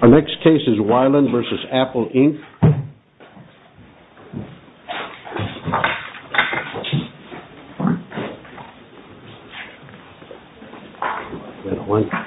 Our next case is We-LAN v. Apple, Inc. We-LAN, Inc. v. Apple, Inc.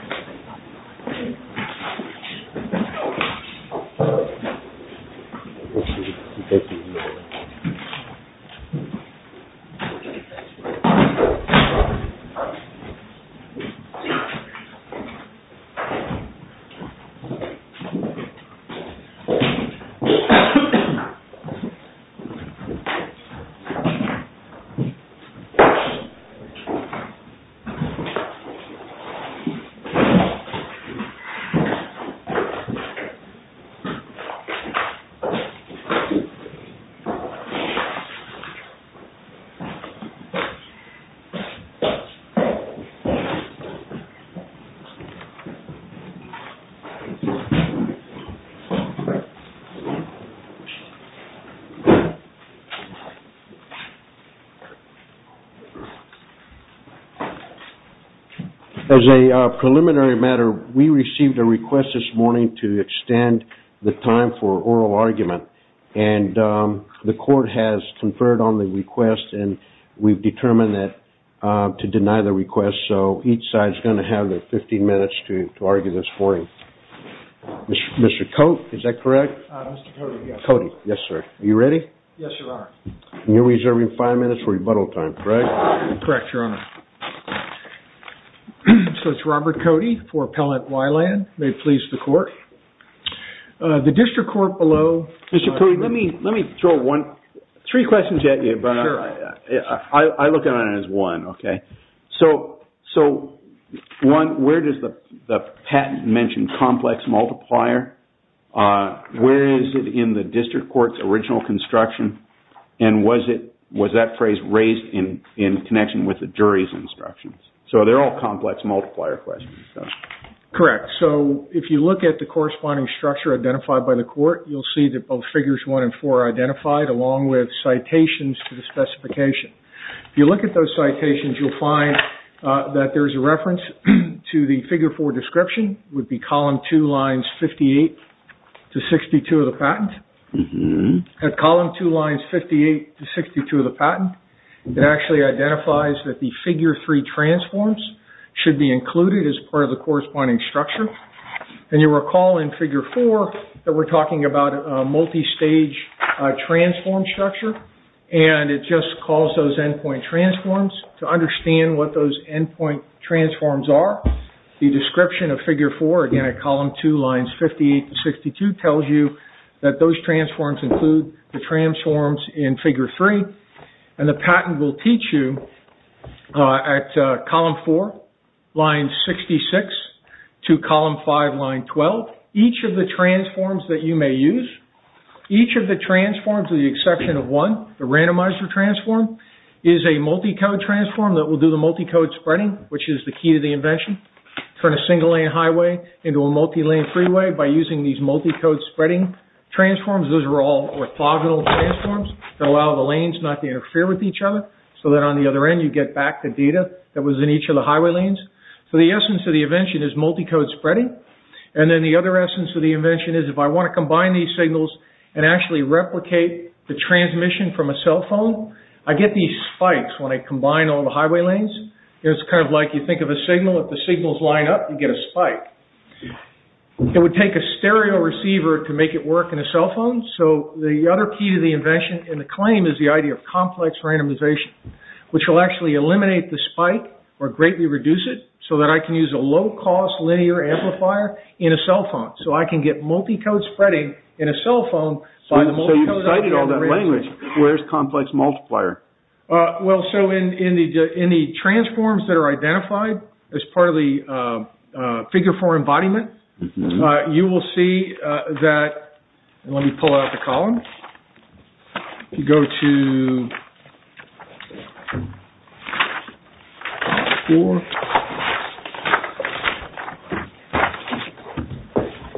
As a preliminary matter, we received a request this morning to extend the time for oral argument and the court has conferred on the request and we've determined to deny the request. So each side is going to have 15 minutes to argue this for you. Mr. Cote, is that correct? Mr. Cote, yes. Cote, yes sir. Are you ready? Yes, Your Honor. You're reserving five minutes for rebuttal time, correct? Correct, Your Honor. So it's Robert Cote for Appellant We-LAN. May it please the court. The district court below... Mr. Cote, let me throw three questions at you, but I look at it as one, okay? So, one, where does the patent mention complex multiplier? Where is it in the district court's original construction? And was that phrase raised in connection with the jury's instructions? So they're all complex multiplier questions. Correct. So if you look at the corresponding structure identified by the court, you'll see that both figures one and four are identified along with citations to the specification. If you look at those citations, you'll find that there's a reference to the figure four description, would be column two, lines 58 to 62 of the patent. At column two, lines 58 to 62 of the patent, it actually identifies that the figure three transforms should be included as part of the corresponding structure. And you'll recall in figure four that we're talking about a multi-stage transform structure, and it just calls those endpoint transforms. To understand what those endpoint transforms are, the description of figure four, again, at column two, lines 58 to 62, tells you that those transforms include the transforms in figure three. And the patent will teach you at column four, lines 66 to column five, line 12, each of the transforms that you may use, Each of the transforms, with the exception of one, the randomizer transform, is a multi-code transform that will do the multi-code spreading, which is the key to the invention. Turn a single-lane highway into a multi-lane freeway by using these multi-code spreading transforms. Those are all orthogonal transforms that allow the lanes not to interfere with each other, so that on the other end, you get back the data that was in each of the highway lanes. So the essence of the invention is multi-code spreading. And then the other essence of the invention is if I want to combine these signals and actually replicate the transmission from a cell phone, I get these spikes when I combine all the highway lanes. It's kind of like you think of a signal, if the signals line up, you get a spike. It would take a stereo receiver to make it work in a cell phone, so the other key to the invention and the claim is the idea of complex randomization, which will actually eliminate the spike or greatly reduce it, so that I can use a low-cost linear amplifier in a cell phone. So I can get multi-code spreading in a cell phone. So you've cited all that language. Where's complex multiplier? Well, so in the transforms that are identified as part of the figure for embodiment, you will see that, let me pull out the column,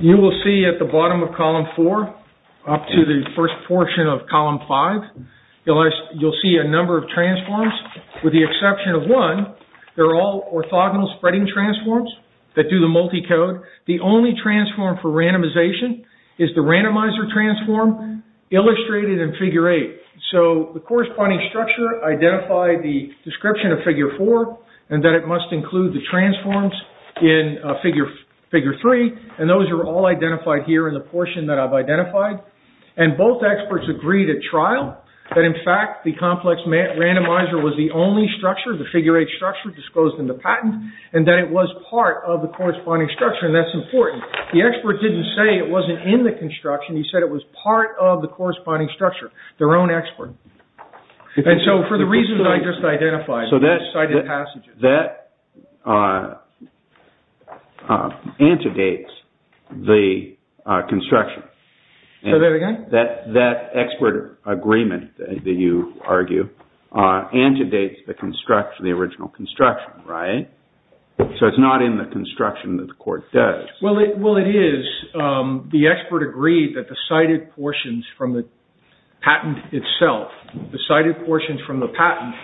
you will see at the bottom of column four up to the first portion of column five, you'll see a number of transforms with the exception of one. They're all orthogonal spreading transforms that do the multi-code. The only transform for randomization is the randomizer transform illustrated in figure eight. So the corresponding structure identified the description of figure four and that it must include the transforms in figure three, and those are all identified here in the portion that I've identified. And both experts agreed at trial that, in fact, the complex randomizer was the only structure, the figure eight structure disclosed in the patent, and that it was part of the corresponding structure, and that's important. The expert didn't say it wasn't in the construction. He said it was part of the corresponding structure, their own expert. And so for the reasons I just identified, I cited passages. So that antedates the construction. Say that again? That expert agreement that you argue antedates the construction, the original construction, right? So it's not in the construction that the court does. Well, it is. The expert agreed that the cited portions from the patent itself, the cited portions from the patent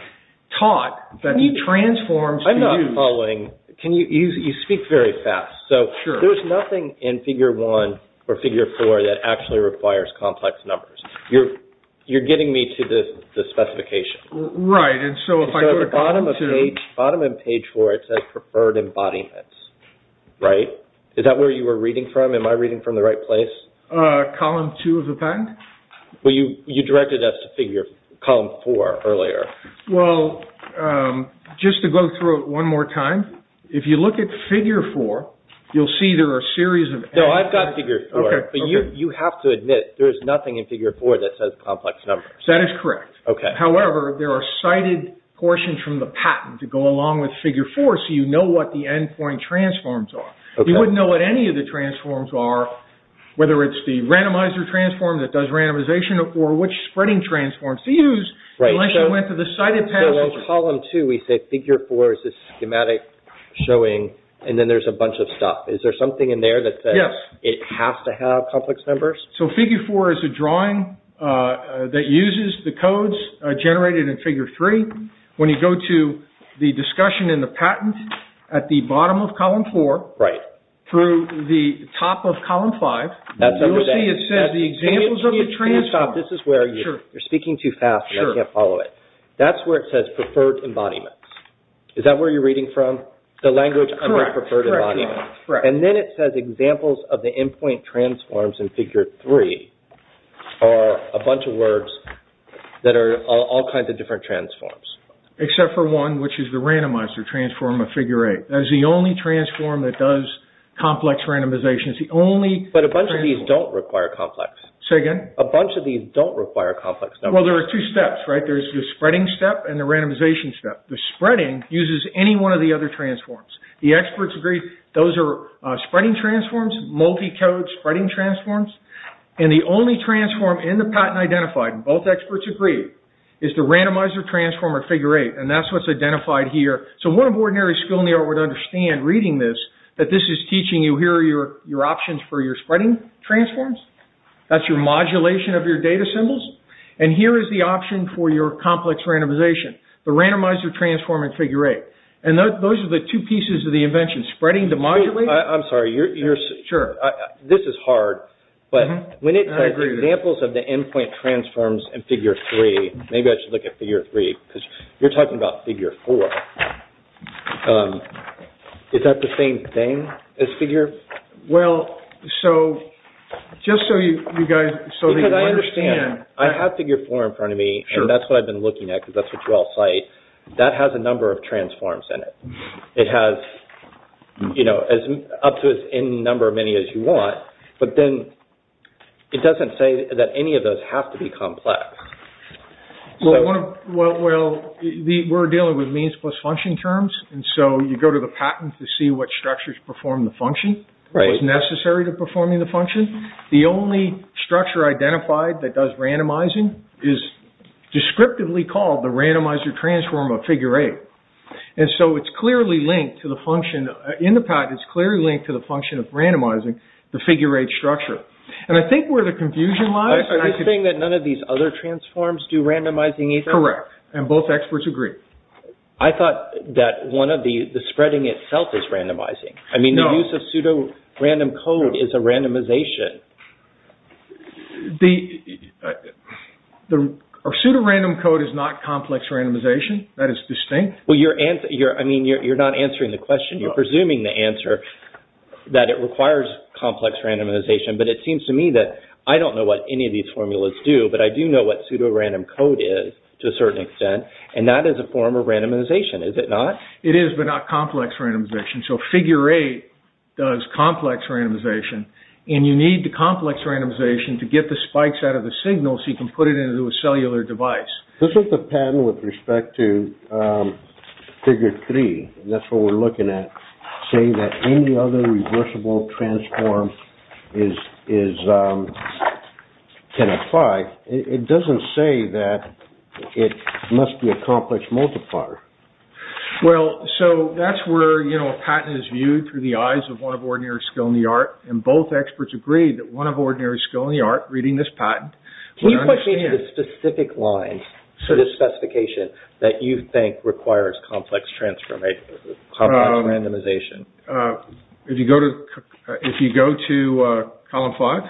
taught that the transforms can be used. I'm not following. You speak very fast. So there's nothing in figure one or figure four that actually requires complex numbers. You're getting me to the specification. Right, and so if I go to column two. So at the bottom of page four it says preferred embodiments, right? Is that where you were reading from? Am I reading from the right place? Column two of the patent? Well, you directed us to column four earlier. Well, just to go through it one more time, if you look at figure four, you'll see there are a series of. No, I've got figure four, but you have to admit there's nothing in figure four that says complex numbers. That is correct. However, there are cited portions from the patent that go along with figure four so you know what the end point transforms are. You wouldn't know what any of the transforms are, whether it's the randomizer transform that does randomization or which spreading transforms to use unless you went to the cited patent. So in column two we say figure four is this schematic showing and then there's a bunch of stuff. Is there something in there that says it has to have complex numbers? So figure four is a drawing that uses the codes generated in figure three. When you go to the discussion in the patent at the bottom of column four through the top of column five, you'll see it says the examples of the transforms. Can you stop? This is where you're speaking too fast and I can't follow it. That's where it says preferred embodiments. Is that where you're reading from? The language of the preferred embodiment? Correct. And then it says examples of the end point transforms in figure three are a bunch of words that are all kinds of different transforms. Except for one, which is the randomizer transform of figure eight. That is the only transform that does complex randomization. But a bunch of these don't require complex. Say again? A bunch of these don't require complex numbers. Well, there are two steps, right? There's the spreading step and the randomization step. The spreading uses any one of the other transforms. The experts agree those are spreading transforms, multi-code spreading transforms. And the only transform in the patent identified, both experts agree, is the randomizer transform of figure eight. And that's what's identified here. So one of ordinary skill in the art would understand reading this, that this is teaching you here are your options for your spreading transforms. That's your modulation of your data symbols. And here is the option for your complex randomization. The randomizer transform in figure eight. And those are the two pieces of the invention. Spreading to modulate. I'm sorry. Sure. This is hard, but when it says examples of the end point transforms in figure three, maybe I should look at figure three, because you're talking about figure four. Is that the same thing as figure? Well, so just so you guys, so that you understand. Because I understand. I have figure four in front of me. And that's what I've been looking at, because that's what you all cite. That has a number of transforms in it. It has up to as many as you want. But then it doesn't say that any of those have to be complex. Well, we're dealing with means plus function terms. And so you go to the patent to see what structures perform the function. What's necessary to performing the function. The only structure identified that does randomizing is descriptively called the randomizer transform of figure eight. And so it's clearly linked to the function. In the patent, it's clearly linked to the function of randomizing the figure eight structure. And I think where the confusion lies. Are you saying that none of these other transforms do randomizing either? Correct. And both experts agree. I thought that one of the, the spreading itself is randomizing. I mean, the use of pseudorandom code is a randomization. The pseudorandom code is not complex randomization. That is distinct. Well, you're, I mean, you're not answering the question. You're presuming the answer that it requires complex randomization. But it seems to me that I don't know what any of these formulas do. But I do know what pseudorandom code is to a certain extent. And that is a form of randomization, is it not? It is, but not complex randomization. So figure eight does complex randomization. And you need the complex randomization to get the spikes out of the signal so you can put it into a cellular device. This is the patent with respect to figure three. That's what we're looking at. Saying that any other reversible transform is, is, can apply. It doesn't say that it must be a complex multiplier. Well, so that's where, you know, a patent is viewed through the eyes of one of ordinary skill in the art. And both experts agree that one of ordinary skill in the art reading this patent. Can you put me in a specific line for this specification that you think requires complex transformation, complex randomization? If you go to, if you go to column five.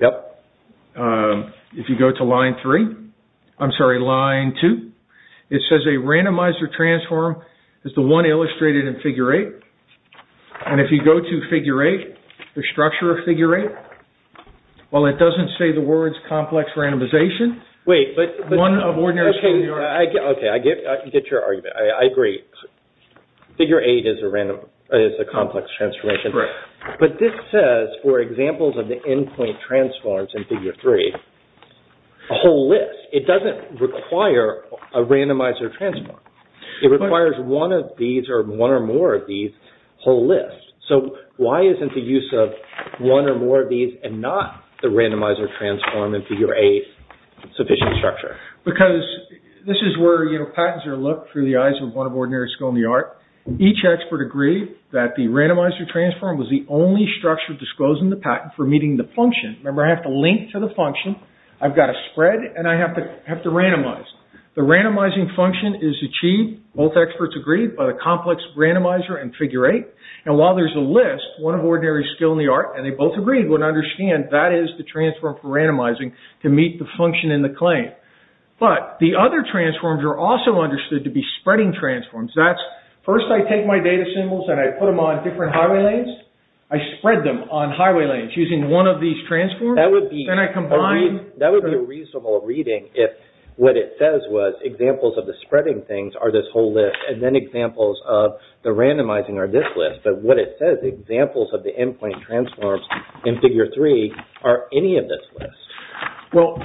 Yep. If you go to line three. I'm sorry, line two. It says a randomizer transform is the one illustrated in figure eight. And if you go to figure eight, the structure of figure eight. While it doesn't say the words complex randomization. Wait, but. One of ordinary skill in the art. Okay, I get, I get your argument. I agree. Figure eight is a random, is a complex transformation. Correct. But this says, for examples of the endpoint transforms in figure three. A whole list. It doesn't require a randomizer transform. It requires one of these or one or more of these whole list. So why isn't the use of one or more of these and not the randomizer transform in figure eight sufficient structure? Because this is where, you know, patents are looked through the eyes of one of ordinary skill in the art. Each expert agree that the randomizer transform was the only structure disclosed in the patent for meeting the function. Remember, I have to link to the function. I've got to spread and I have to have to randomize. The randomizing function is achieved. Both experts agreed by the complex randomizer and figure eight. And while there's a list, one of ordinary skill in the art. And they both agreed would understand that is the transform for randomizing to meet the function in the claim. But the other transforms are also understood to be spreading transforms. That's first I take my data symbols and I put them on different highway lanes. I spread them on highway lanes using one of these transform. Then I combine. That would be a reasonable reading if what it says was examples of the spreading things are this whole list. And then examples of the randomizing are this list. But what it says, examples of the end point transforms in figure three are any of this list. Well,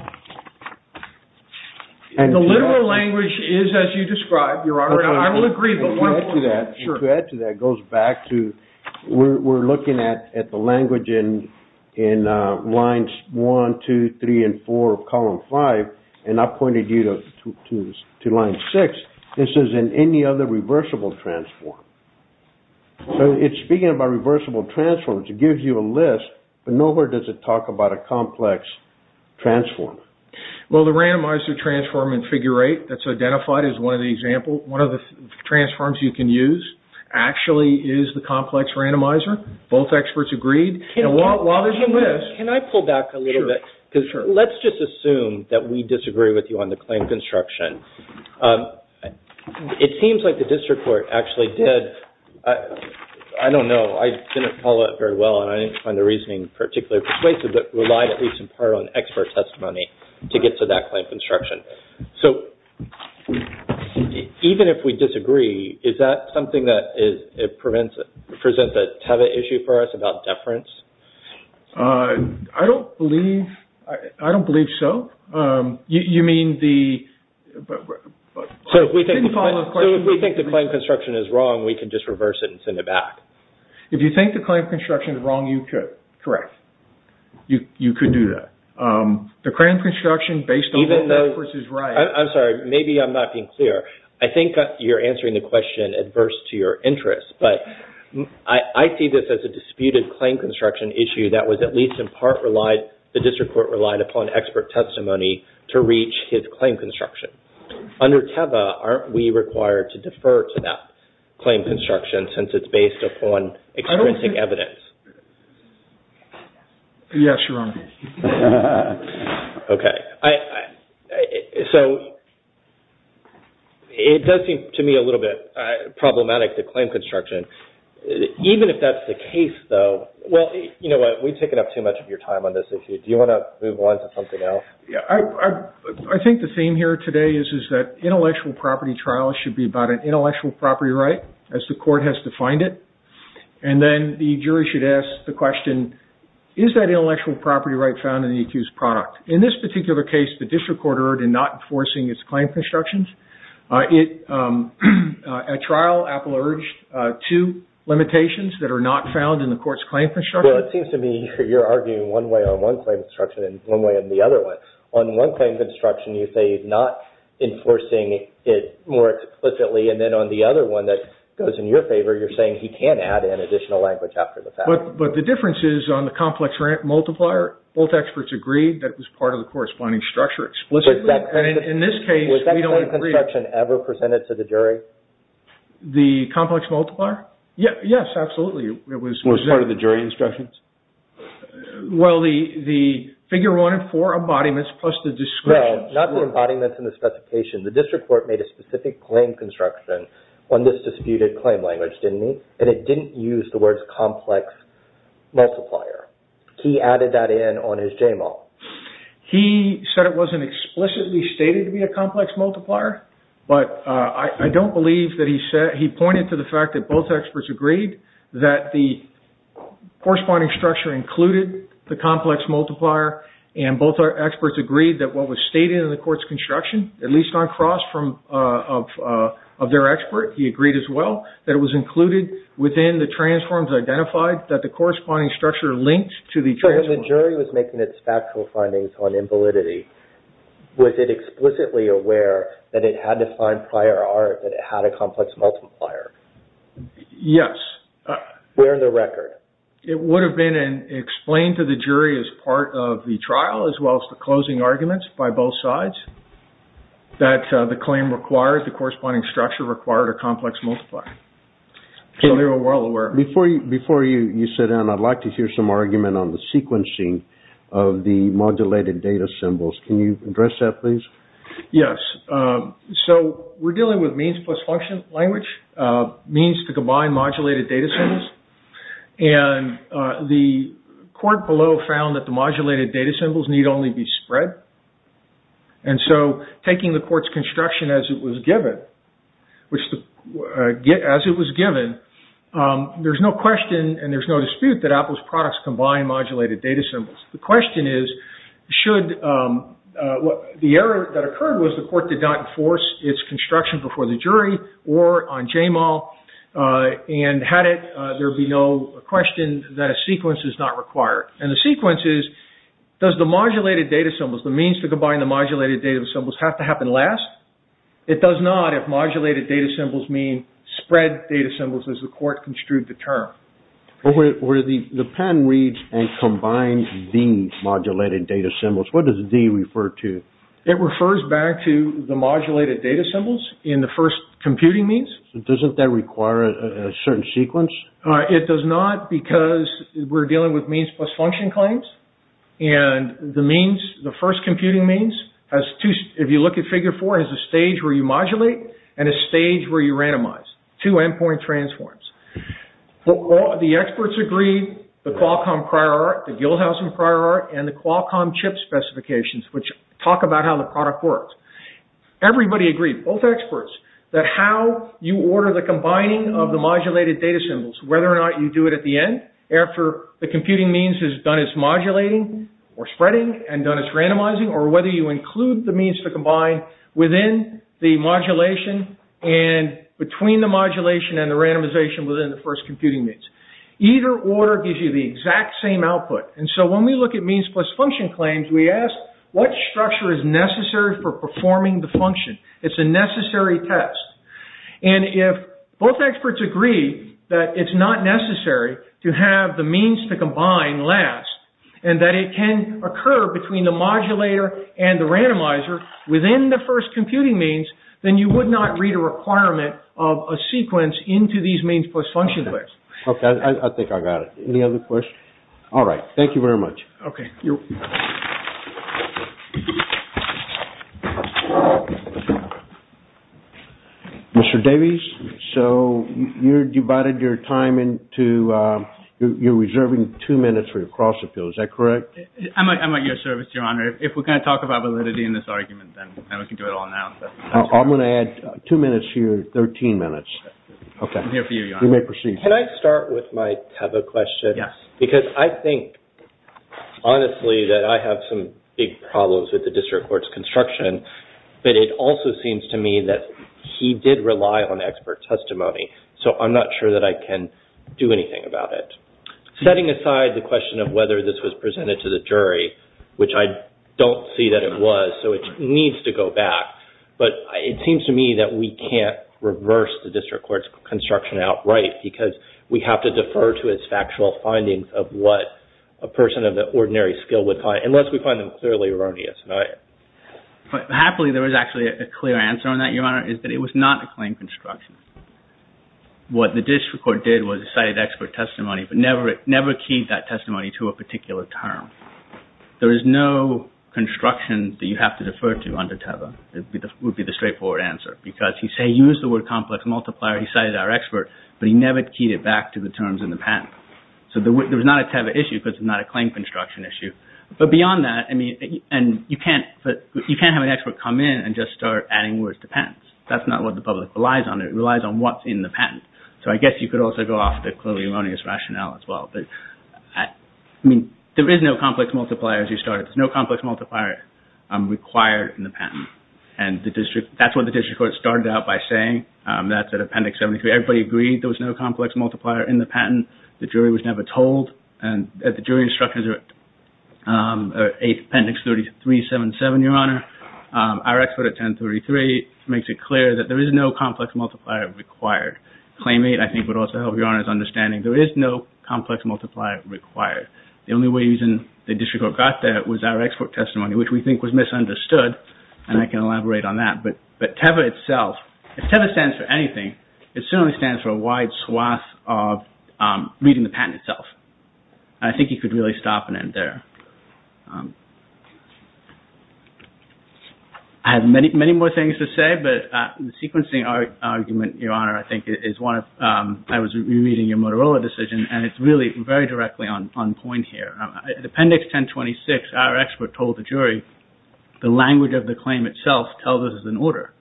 the literal language is as you described, Your Honor. I will agree. To add to that, it goes back to we're looking at the language in lines one, two, three, and four of column five. And I pointed you to line six. This is in any other reversible transform. So it's speaking about reversible transforms. It gives you a list, but nowhere does it talk about a complex transform. Well, the randomizer transform in figure eight that's identified is one of the examples. One of the transforms you can use actually is the complex randomizer. Both experts agreed. While there's a list. Can I pull back a little bit? Sure. Let's just assume that we disagree with you on the claim construction. It seems like the district court actually did. I don't know. I didn't follow it very well and I didn't find the reasoning particularly persuasive, but relied at least in part on expert testimony to get to that claim construction. So even if we disagree, is that something that presents a tether issue for us about deference? I don't believe so. You mean the... So if we think the claim construction is wrong, we can just reverse it and send it back. If you think the claim construction is wrong, you could. Correct. You could do that. The claim construction based on what the experts is right... I'm sorry. Maybe I'm not being clear. I think you're answering the question adverse to your interest, but I see this as a disputed claim construction issue that was at least in part relied... The district court relied upon expert testimony to reach his claim construction. Under TEVA, aren't we required to defer to that claim construction since it's based upon extrinsic evidence? Yes, Your Honor. Okay. So it does seem to me a little bit problematic, the claim construction. Even if that's the case, though... Well, you know what? We've taken up too much of your time on this issue. Do you want to move on to something else? I think the theme here today is that intellectual property trials should be about an intellectual property right as the court has defined it. And then the jury should ask the question, is that intellectual property right found in the accused product? In this particular case, the district court erred in not enforcing its claim constructions. At trial, Apple urged two limitations that are not found in the court's claim construction. Well, it seems to me you're arguing one way on one claim construction and one way on the other one. On one claim construction, you say not enforcing it more explicitly. And then on the other one that goes in your favor, you're saying he can add in additional language after the fact. But the difference is on the complex multiplier, both experts agreed that it was part of the corresponding structure explicitly. And in this case, we don't agree. Was that claim construction ever presented to the jury? The complex multiplier? Yes, absolutely. Was it part of the jury instructions? Well, the figure one and four embodiments plus the description... Well, not the embodiments and the specification. The district court made a specific claim construction on this disputed claim language, didn't it? And it didn't use the words complex multiplier. He added that in on his JMAL. He said it wasn't explicitly stated to be a complex multiplier. But I don't believe that he said... He pointed to the fact that both experts agreed that the corresponding structure included the complex multiplier. And both experts agreed that what was stated in the court's construction, at least on cross of their expert, he agreed as well that it was included within the transforms identified that the corresponding structure linked to the transform. So if the jury was making its factual findings on invalidity, was it explicitly aware that it had to find prior art that it had a complex multiplier? Yes. Where in the record? It would have been explained to the jury as part of the trial as well as the closing arguments by both sides that the claim requires the corresponding structure required a complex multiplier. So they were well aware. Before you sit down, I'd like to hear some argument on the sequencing of the modulated data symbols. Can you address that, please? Yes. So we're dealing with means plus function language, means to combine modulated data symbols. And the court below found that the modulated data symbols need only be spread. And so taking the court's construction as it was given, there's no question and there's no dispute that Apple's products combine modulated data symbols. The question is, should... The error that occurred was the court did not enforce its construction before the jury or on JMAL. And had it, there'd be no question that a sequence is not required. And the sequence is, does the modulated data symbols, the means to combine the modulated data symbols, have to happen last? It does not if modulated data symbols mean spread data symbols as the court construed the term. The patent reads and combines the modulated data symbols. What does the refer to? It refers back to the modulated data symbols in the first computing means. Doesn't that require a certain sequence? It does not because we're dealing with means plus function claims. And the means, the first computing means, if you look at figure four, has a stage where you modulate and a stage where you randomize. Two endpoint transforms. The experts agree, the Qualcomm prior art, the Gilhausen prior art, and the Qualcomm chip specifications, which talk about how the product works. Everybody agreed, both experts, that how you order the combining of the modulated data symbols, whether or not you do it at the end, after the computing means has done its modulating or spreading and done its randomizing, or whether you include the means to combine within the modulation and between the modulation and the randomization within the first computing means. Either order gives you the exact same output. And so when we look at means plus function claims, we ask, what structure is necessary for performing the function? It's a necessary test. And if both experts agree that it's not necessary to have the means to combine last, and that it can occur between the modulator and the randomizer within the first computing means, then you would not read a requirement of a sequence into these means plus function claims. OK, I think I got it. Any other questions? All right, thank you very much. Mr. Davies, you're reserving two minutes for your cross-appeal. Is that correct? I'm at your service, Your Honor. If we're going to talk about validity in this argument, then we can do it all now. I'm going to add two minutes to your 13 minutes. I'm here for you, Your Honor. You may proceed. Can I start with my Teva question? Yes. Because I think, honestly, that I have some big problems with the district court's construction, but it also seems to me that he did rely on expert testimony, so I'm not sure that I can do anything about it. Setting aside the question of whether this was presented to the jury, which I don't see that it was, so it needs to go back, but it seems to me that we can't reverse the district court's construction outright, because we have to defer to its factual findings of what a person of the ordinary skill would find, unless we find them clearly erroneous. Happily, there is actually a clear answer on that, Your Honor, is that it was not a claim construction. What the district court did was cited expert testimony, but never keyed that testimony to a particular term. There is no construction that you have to defer to under Teva. That would be the straightforward answer, because he used the word complex multiplier. He cited our expert, but he never keyed it back to the terms in the patent. So there was not a Teva issue, because it's not a claim construction issue. But beyond that, you can't have an expert come in and just start adding words to patents. That's not what the public relies on. It relies on what's in the patent. So I guess you could also go off the clearly erroneous rationale as well. I mean, there is no complex multiplier as you started. There's no complex multiplier required in the patent. And that's what the district court started out by saying. That's at Appendix 73. Everybody agreed there was no complex multiplier in the patent. The jury was never told. The jury instructions are 8th Appendix 3377, Your Honor. Our expert at 1033 makes it clear that there is no complex multiplier required. Claim 8, I think, would also help Your Honor's understanding. There is no complex multiplier required. The only reason the district court got there was our expert testimony, which we think was misunderstood, and I can elaborate on that. But Teva itself, if Teva stands for anything, it certainly stands for a wide swath of reading the patent itself. And I think you could really stop and end there. I have many, many more things to say, but the sequencing argument, Your Honor, I think is one of, I was re-reading your Motorola decision, and it's really very directly on point here. At Appendix 1026, our expert told the jury, the language of the claim itself tells us it's an order.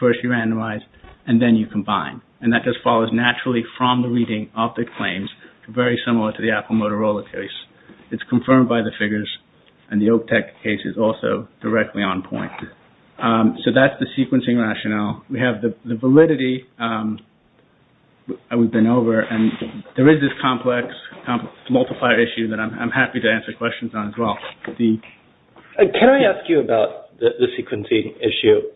First you randomize, and then you combine. And that just follows naturally from the reading of the claims, very similar to the Apple Motorola case. It's confirmed by the figures, and the Oak Tech case is also directly on point. So that's the sequencing rationale. We have the validity that we've been over, and there is this complex multiplier issue that I'm happy to answer questions on as well. Can I ask you about the sequencing issue?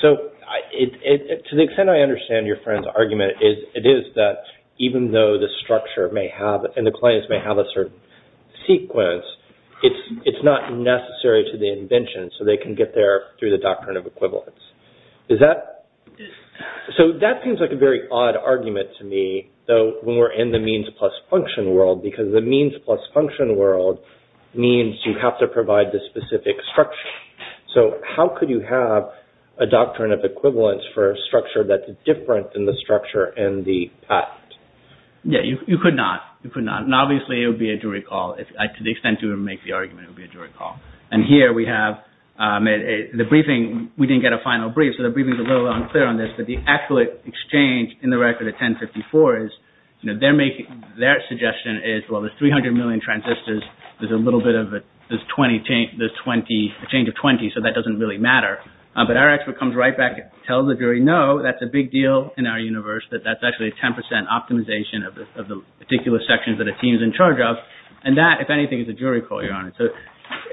So to the extent I understand your friend's argument, it is that even though the structure may have, and the claims may have a certain sequence, it's not necessary to the invention, so they can get there through the doctrine of equivalence. So that seems like a very odd argument to me, when we're in the means plus function world, because the means plus function world means you have to provide the specific structure. So how could you have a doctrine of equivalence for a structure that's different than the structure and the patent? Yeah, you could not. And obviously it would be a jury call. To the extent you would make the argument, it would be a jury call. And here we have the briefing. We didn't get a final brief, so the briefing's a little unclear on this, but the actual exchange in the record at 1054 is, their suggestion is, well, the 300 million transistors, there's a little bit of a change of 20, so that doesn't really matter. But our expert comes right back, tells the jury, no, that's a big deal in our universe, that that's actually a 10% optimization of the particular sections that a team's in charge of. And that, if anything, is a jury call, Your Honor. So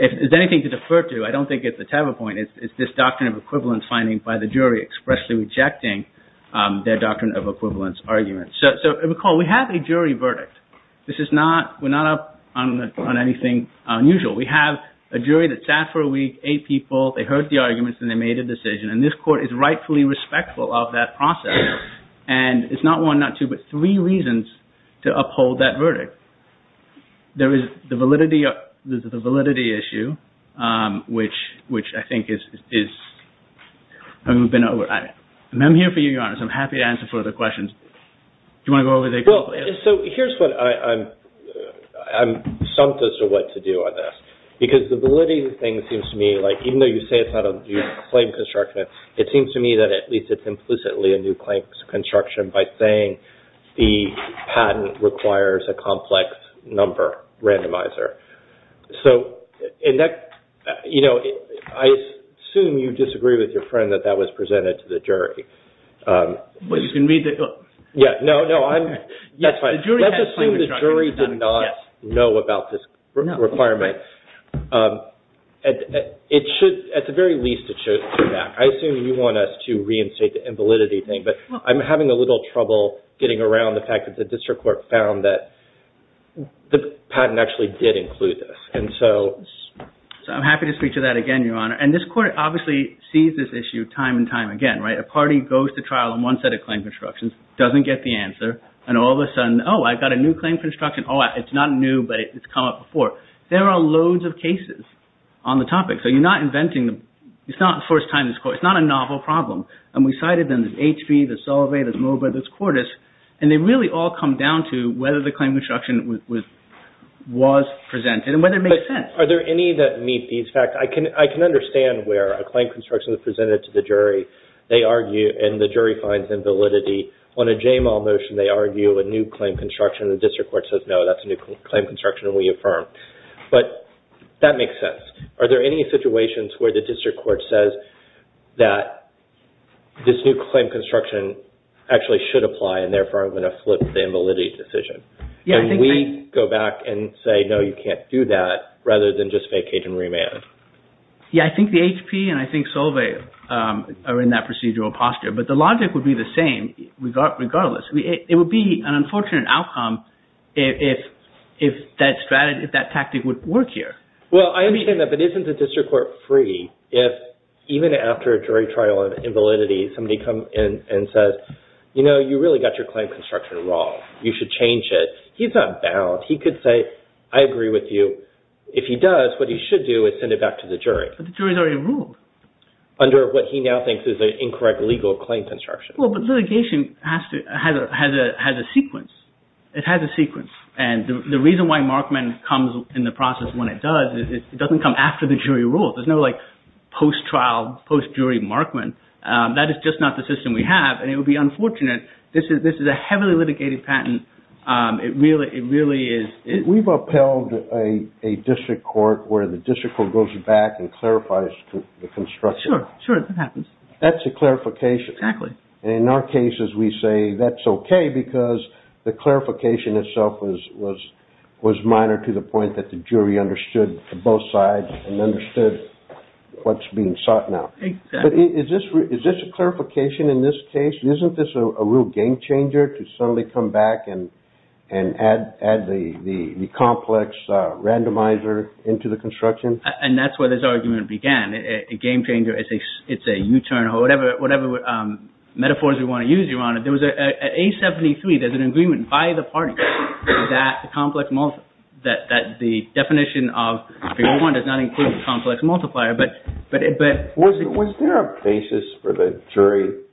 if there's anything to defer to, I don't think it's a tavern point, it's this doctrine of equivalence finding by the jury expressly rejecting their doctrine of equivalence argument. So recall, we have a jury verdict. This is not, we're not up on anything unusual. We have a jury that sat for a week, eight people, they heard the arguments and they made a decision, and this court is rightfully respectful of that process. And it's not one, not two, but three reasons to uphold that verdict. There is the validity issue, which I think is... I'm here for you, Your Honor, so I'm happy to answer further questions. Do you want to go over there quickly? Well, so here's what I'm stumped as to what to do on this. Because the validity thing seems to me like, even though you say it's not a new claim construction, it seems to me that at least it's implicitly a new claim construction by saying the patent requires a complex number randomizer. So, and that, you know, I assume you disagree with your friend that that was presented to the jury. Well, you can read the... Yeah, no, no, I'm... Let's assume the jury did not know about this requirement. It should, at the very least, it should come back. I assume you want us to reinstate the invalidity thing, but I'm having a little trouble getting around the fact that the district court found that the patent actually did include this. And so... So I'm happy to speak to that again, Your Honor. And this court obviously sees this issue time and time again, right? A party goes to trial on one set of claim constructions, doesn't get the answer, and all of a sudden, oh, I've got a new claim construction. Oh, it's not new, but it's come up before. There are loads of cases on the topic. So you're not inventing... It's not the first time this court... It's not a novel problem. And we cited them. There's HB, there's Salovey, there's Moba, there's Cordis. And they really all come down to whether the claim construction was presented and whether it makes sense. But are there any that meet these facts? I can understand where a claim construction is presented to the jury. They argue, and the jury finds invalidity. On a JMAL motion, they argue a new claim construction, and the district court says, no, that's a new claim construction, and we affirm. But that makes sense. Are there any situations where the district court says that this new claim construction actually should apply, and therefore I'm going to flip the invalidity decision? And we go back and say, no, you can't do that, rather than just vacate and remand? Yeah, I think the HP and I think Salovey are in that procedural posture. But the logic would be the same regardless. It would be an unfortunate outcome if that tactic would work here. Well, I understand that, but isn't the district court free if even after a jury trial of invalidity, somebody comes in and says, you know, you really got your claim construction wrong. You should change it. He's not bound. He could say, I agree with you. If he does, what he should do is send it back to the jury. But the jury's already ruled. Under what he now thinks is an incorrect legal claim construction. Well, but litigation has a sequence. It has a sequence. And the reason why Markman comes in the process when it does is it doesn't come after the jury rules. There's no, like, post-trial, post-jury Markman. That is just not the system we have, and it would be unfortunate. This is a heavily litigated patent. It really is. We've upheld a district court where the district court goes back and clarifies the construction. Sure, sure, that happens. That's a clarification. Exactly. And in our cases, we say that's okay because the clarification itself was minor to the point that the jury understood both sides and understood what's being sought now. But is this a clarification in this case? Isn't this a real game-changer to suddenly come back and add the complex randomizer into the construction? And that's where this argument began. A game-changer, it's a U-turn, or whatever metaphors we want to use, Your Honor. At A73, there's an agreement by the parties that the definition of the old one does not include the complex multiplier, but... Was there a basis for the jury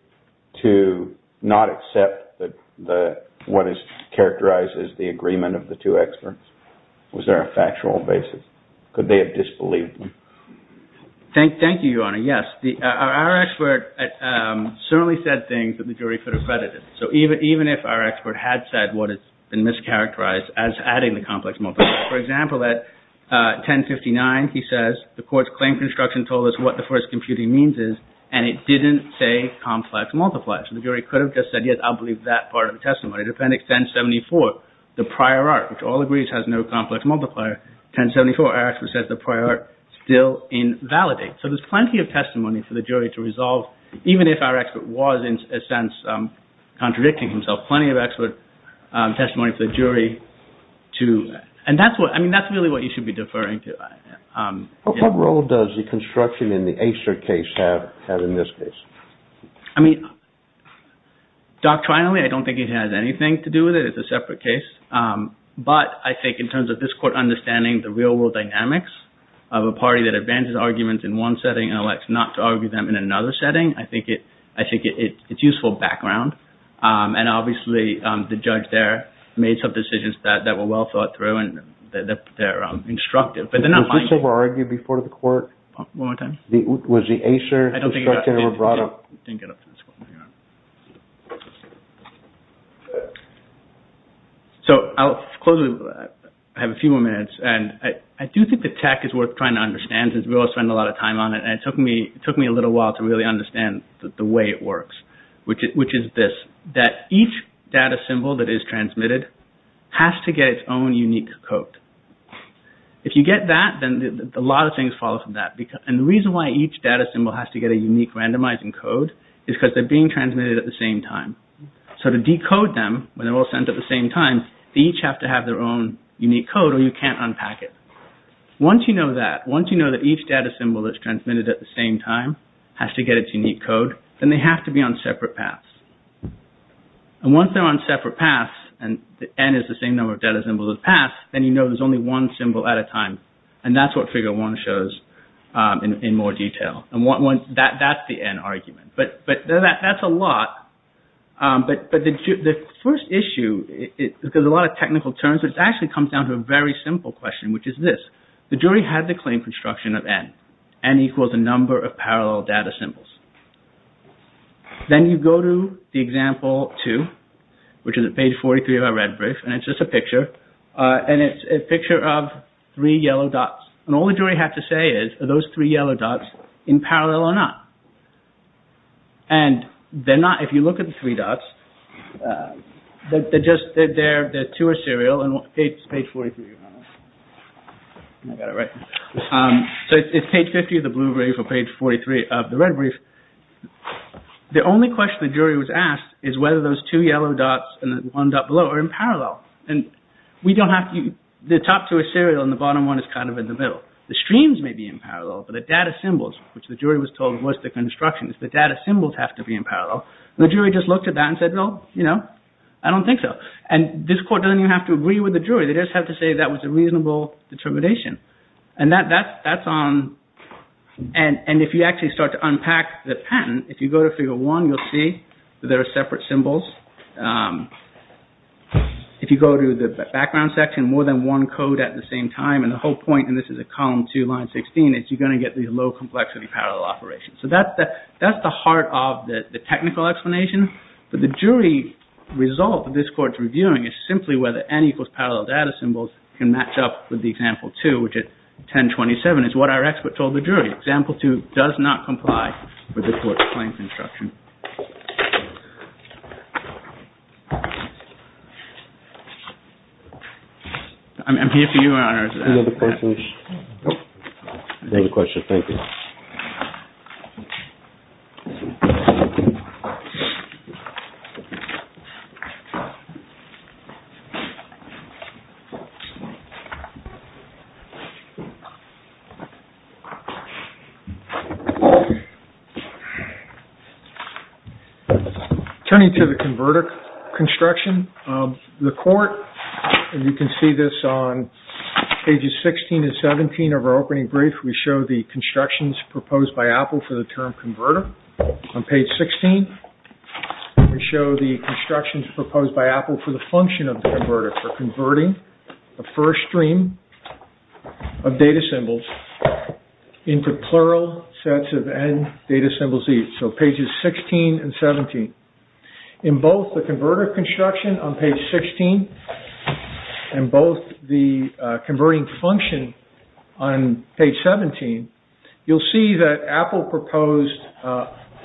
to not accept what is characterized as the agreement of the two experts? Was there a factual basis? Could they have disbelieved them? Thank you, Your Honor, yes. Our expert certainly said things that the jury could have credited. So even if our expert had said what had been mischaracterized as adding the complex multiplier. For example, at 1059, he says, the court's claim construction told us what the first computing means is, and it didn't say complex multiplier. So the jury could have just said, yes, I'll believe that part of the testimony. In Appendix 1074, the prior art, which all agrees has no complex multiplier, 1074, our expert says the prior art still invalidates. So there's plenty of testimony for the jury to resolve, and he's contradicting himself. Plenty of expert testimony for the jury to... And that's what, I mean, that's really what you should be deferring to. What role does the construction in the Acer case have in this case? I mean, doctrinally, I don't think it has anything to do with it. It's a separate case. But I think in terms of this court understanding the real-world dynamics of a party that advances arguments in one setting and elects not to argue them in another setting, I think it's useful background. And obviously, the judge there made some decisions that were well thought through, and they're instructive, but they're not minding it. Was this ever argued before the court? One more time. Was the Acer construction ever brought up? I didn't get up to this point. So I'll close with... I have a few more minutes, and I do think the tech is worth trying to understand because we all spend a lot of time on it, and it took me a little while to really understand the way it works, which is this, that each data symbol that is transmitted has to get its own unique code. If you get that, then a lot of things follow from that. And the reason why each data symbol has to get a unique randomizing code is because they're being transmitted at the same time. So to decode them when they're all sent at the same time, they each have to have their own unique code, or you can't unpack it. Once you know that, once you know that each data symbol that's transmitted at the same time has to get its unique code, then they have to be on separate paths. And once they're on separate paths, and N is the same number of data symbols as paths, then you know there's only one symbol at a time, and that's what Figure 1 shows in more detail. And that's the N argument. But that's a lot. But the first issue, because a lot of technical terms, it actually comes down to a very simple question, which is this. The jury had the claim construction of N. N equals the number of parallel data symbols. Then you go to the example 2, which is at page 43 of our red brief, and it's just a picture. And it's a picture of three yellow dots. And all the jury had to say is, are those three yellow dots in parallel or not? And they're not. If you look at the three dots, they're two are serial, and it's page 43. I got it right. So it's page 50 of the blue brief or page 43 of the red brief. The only question the jury was asked is whether those two yellow dots and the one dot below are in parallel. The top two are serial and the bottom one is kind of in the middle. The streams may be in parallel, but the data symbols, which the jury was told was the construction, the data symbols have to be in parallel. The jury just looked at that and said, well, you know, I don't think so. And this court doesn't even have to agree with the jury. They just have to say that was a reasonable determination. And if you actually start to unpack the patent, if you go to figure one, you'll see that there are separate symbols. If you go to the background section, more than one code at the same time, and the whole point, and this is a column two, line 16, is you're going to get these low-complexity parallel operations. So that's the heart of the technical explanation. But the jury result that this court's reviewing is simply whether N equals parallel data symbols can match up with the example two, which at 1027 is what our expert told the jury. Example two does not comply with this court's claims instruction. I'm here for you, Your Honor. Any other questions? No questions, thank you. Thank you. Turning to the converter construction, the court, and you can see this on pages 16 and 17 of our opening brief, we show the constructions proposed by Apple for the term converter. On page 16, we show the constructions proposed by Apple for the function of the converter for converting the first stream of data symbols into plural sets of N data symbols each. So pages 16 and 17. In both the converter construction on page 16 and both the converting function on page 17, you'll see that Apple proposed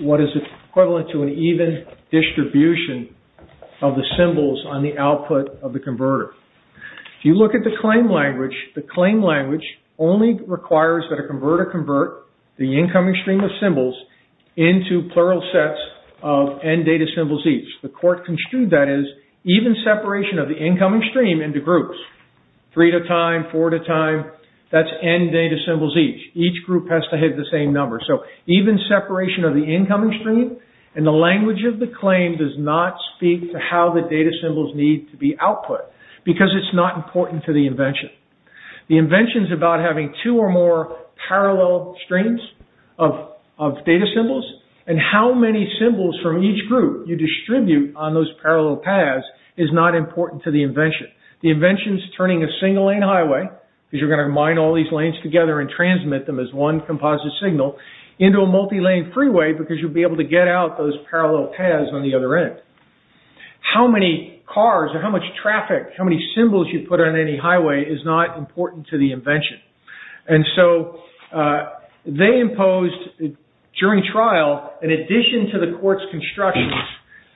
what is equivalent to an even distribution of the symbols on the output of the converter. If you look at the claim language, the claim language only requires that a converter convert the incoming stream of symbols into plural sets of N data symbols each. The court construed that as even separation of the incoming stream into groups. Three at a time, four at a time, that's N data symbols each. Each group has to have the same number. So even separation of the incoming stream and the language of the claim does not speak to how the data symbols need to be output because it's not important to the invention. The invention's about having two or more parallel streams of data symbols and how many symbols from each group you distribute on those parallel paths is not important to the invention. The invention's turning a single lane highway because you're gonna mine all these lanes together and transmit them as one composite signal into a multi-lane freeway because you'll be able to get out those parallel paths on the other end. How many cars or how much traffic, how many symbols you put on any highway is not important to the invention. And so they imposed during trial an addition to the court's construction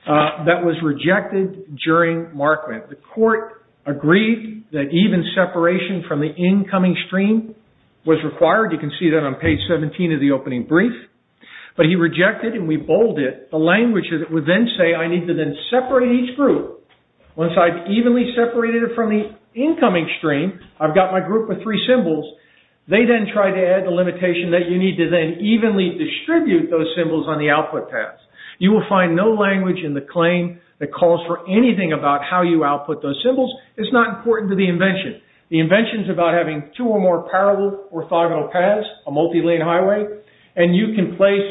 that was rejected during markment. The court agreed that even separation from the incoming stream was required. You can see that on page 17 of the opening brief. But he rejected and we bolded the language that would then say I need to then separate each group. Once I've evenly separated it from the incoming stream, I've got my group of three symbols. They then tried to add the limitation that you need to then evenly distribute those symbols on the output paths. You will find no language in the claim that calls for anything about how you output those symbols. It's not important to the invention. The invention is about having two or more parallel orthogonal paths, a multi-lane highway. And you can place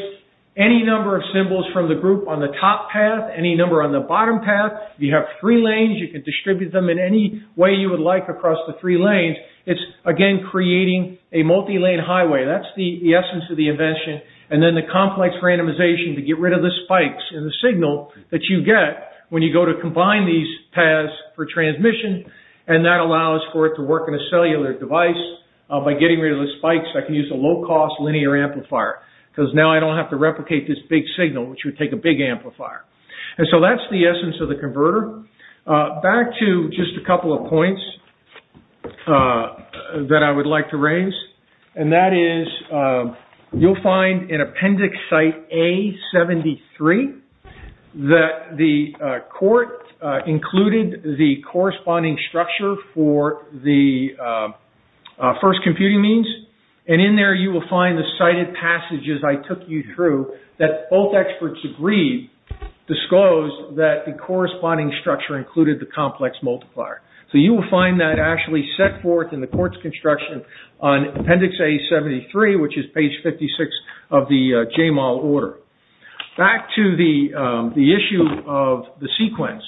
any number of symbols from the group on the top path, any number on the bottom path. You have three lanes, you can distribute them in any way you would like across the three lanes. It's again creating a multi-lane highway. That's the essence of the invention. And then the complex randomization to get rid of the spikes in the signal that you get when you go to combine these paths for transmission. And that allows for it to work in a cellular device. By getting rid of the spikes, I can use a low-cost linear amplifier. Because now I don't have to replicate this big signal, which would take a big amplifier. And so that's the essence of the converter. Back to just a couple of points that I would like to raise. And that is, you'll find in appendix site A73 that the court included the corresponding structure for the first computing means. And in there you will find the cited passages I took you through that both experts agreed, disclosed that the corresponding structure included the complex multiplier. So you will find that actually set forth in the court's construction on appendix A73, which is page 56 of the JMOL order. Back to the issue of the sequence.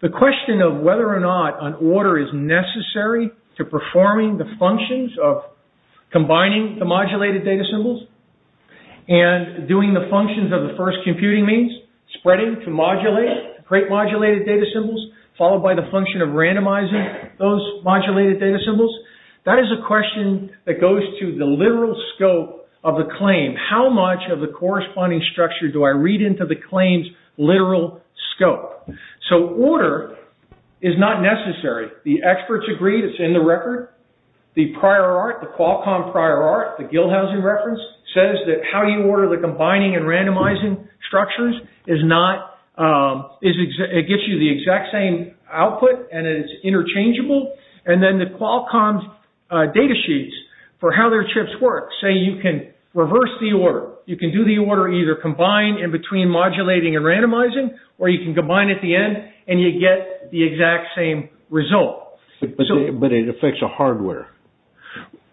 The question of whether or not an order is necessary to performing the functions of combining the modulated data symbols and doing the functions of the first computing means, spreading to modulate, create modulated data symbols, followed by the function of randomizing those modulated data symbols, that is a question that goes to the literal scope of the claim. How much of the corresponding structure do I read into the claim's literal scope? So order is not necessary. The experts agreed, it's in the record. The prior art, the Qualcomm prior art, the Gilhausen reference, says that how you order the combining and randomizing structures is not, it gets you the exact same output and it's interchangeable. And then the Qualcomm's data sheets for how their chips work. Say you can reverse the order. You can do the order either combined in between modulating and randomizing or you can combine at the end and you get the exact same result. But it affects the hardware.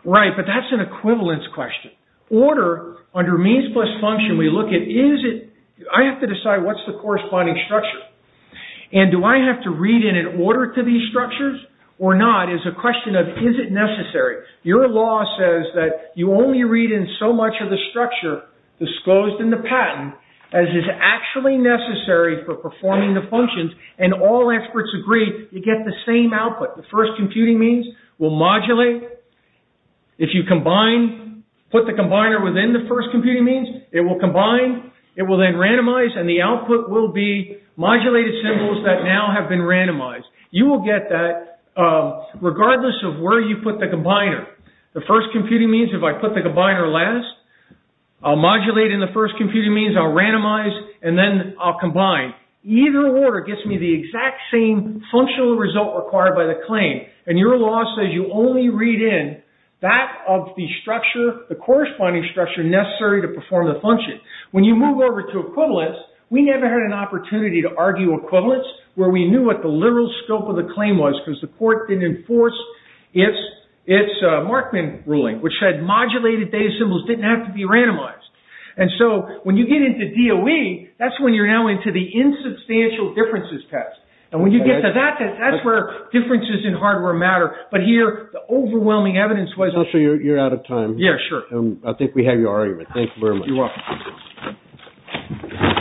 Right, but that's an equivalence question. Order, under means plus function, we look at is it, I have to decide what's the corresponding structure. And do I have to read in an order to these structures or not is a question of is it necessary. Your law says that you only read in so much of the structure disclosed in the patent as is actually necessary for performing the functions and all experts agree you get the same output. The first computing means will modulate. If you combine, put the combiner within the first computing means, it will combine, it will then randomize and the output will be modulated symbols that now have been randomized. You will get that regardless of where you put the combiner. The first computing means if I put the combiner last, I'll modulate in the first computing means, I'll randomize and then I'll combine. Either order gets me the exact same functional result required by the claim and your law says you only read in that of the structure, the corresponding structure necessary to perform the function. When you move over to equivalence, we never had an opportunity to argue equivalence where we knew what the literal scope of the claim was because the court didn't enforce its Markman ruling which said modulated data symbols didn't have to be randomized. When you get into DOE, that's when you're now into the insubstantial differences test. When you get to that test, that's where differences in hardware matter. Here, the overwhelming evidence was... I'm sure you're out of time. Yeah, sure. I think we have your argument. Thank you very much. You're welcome.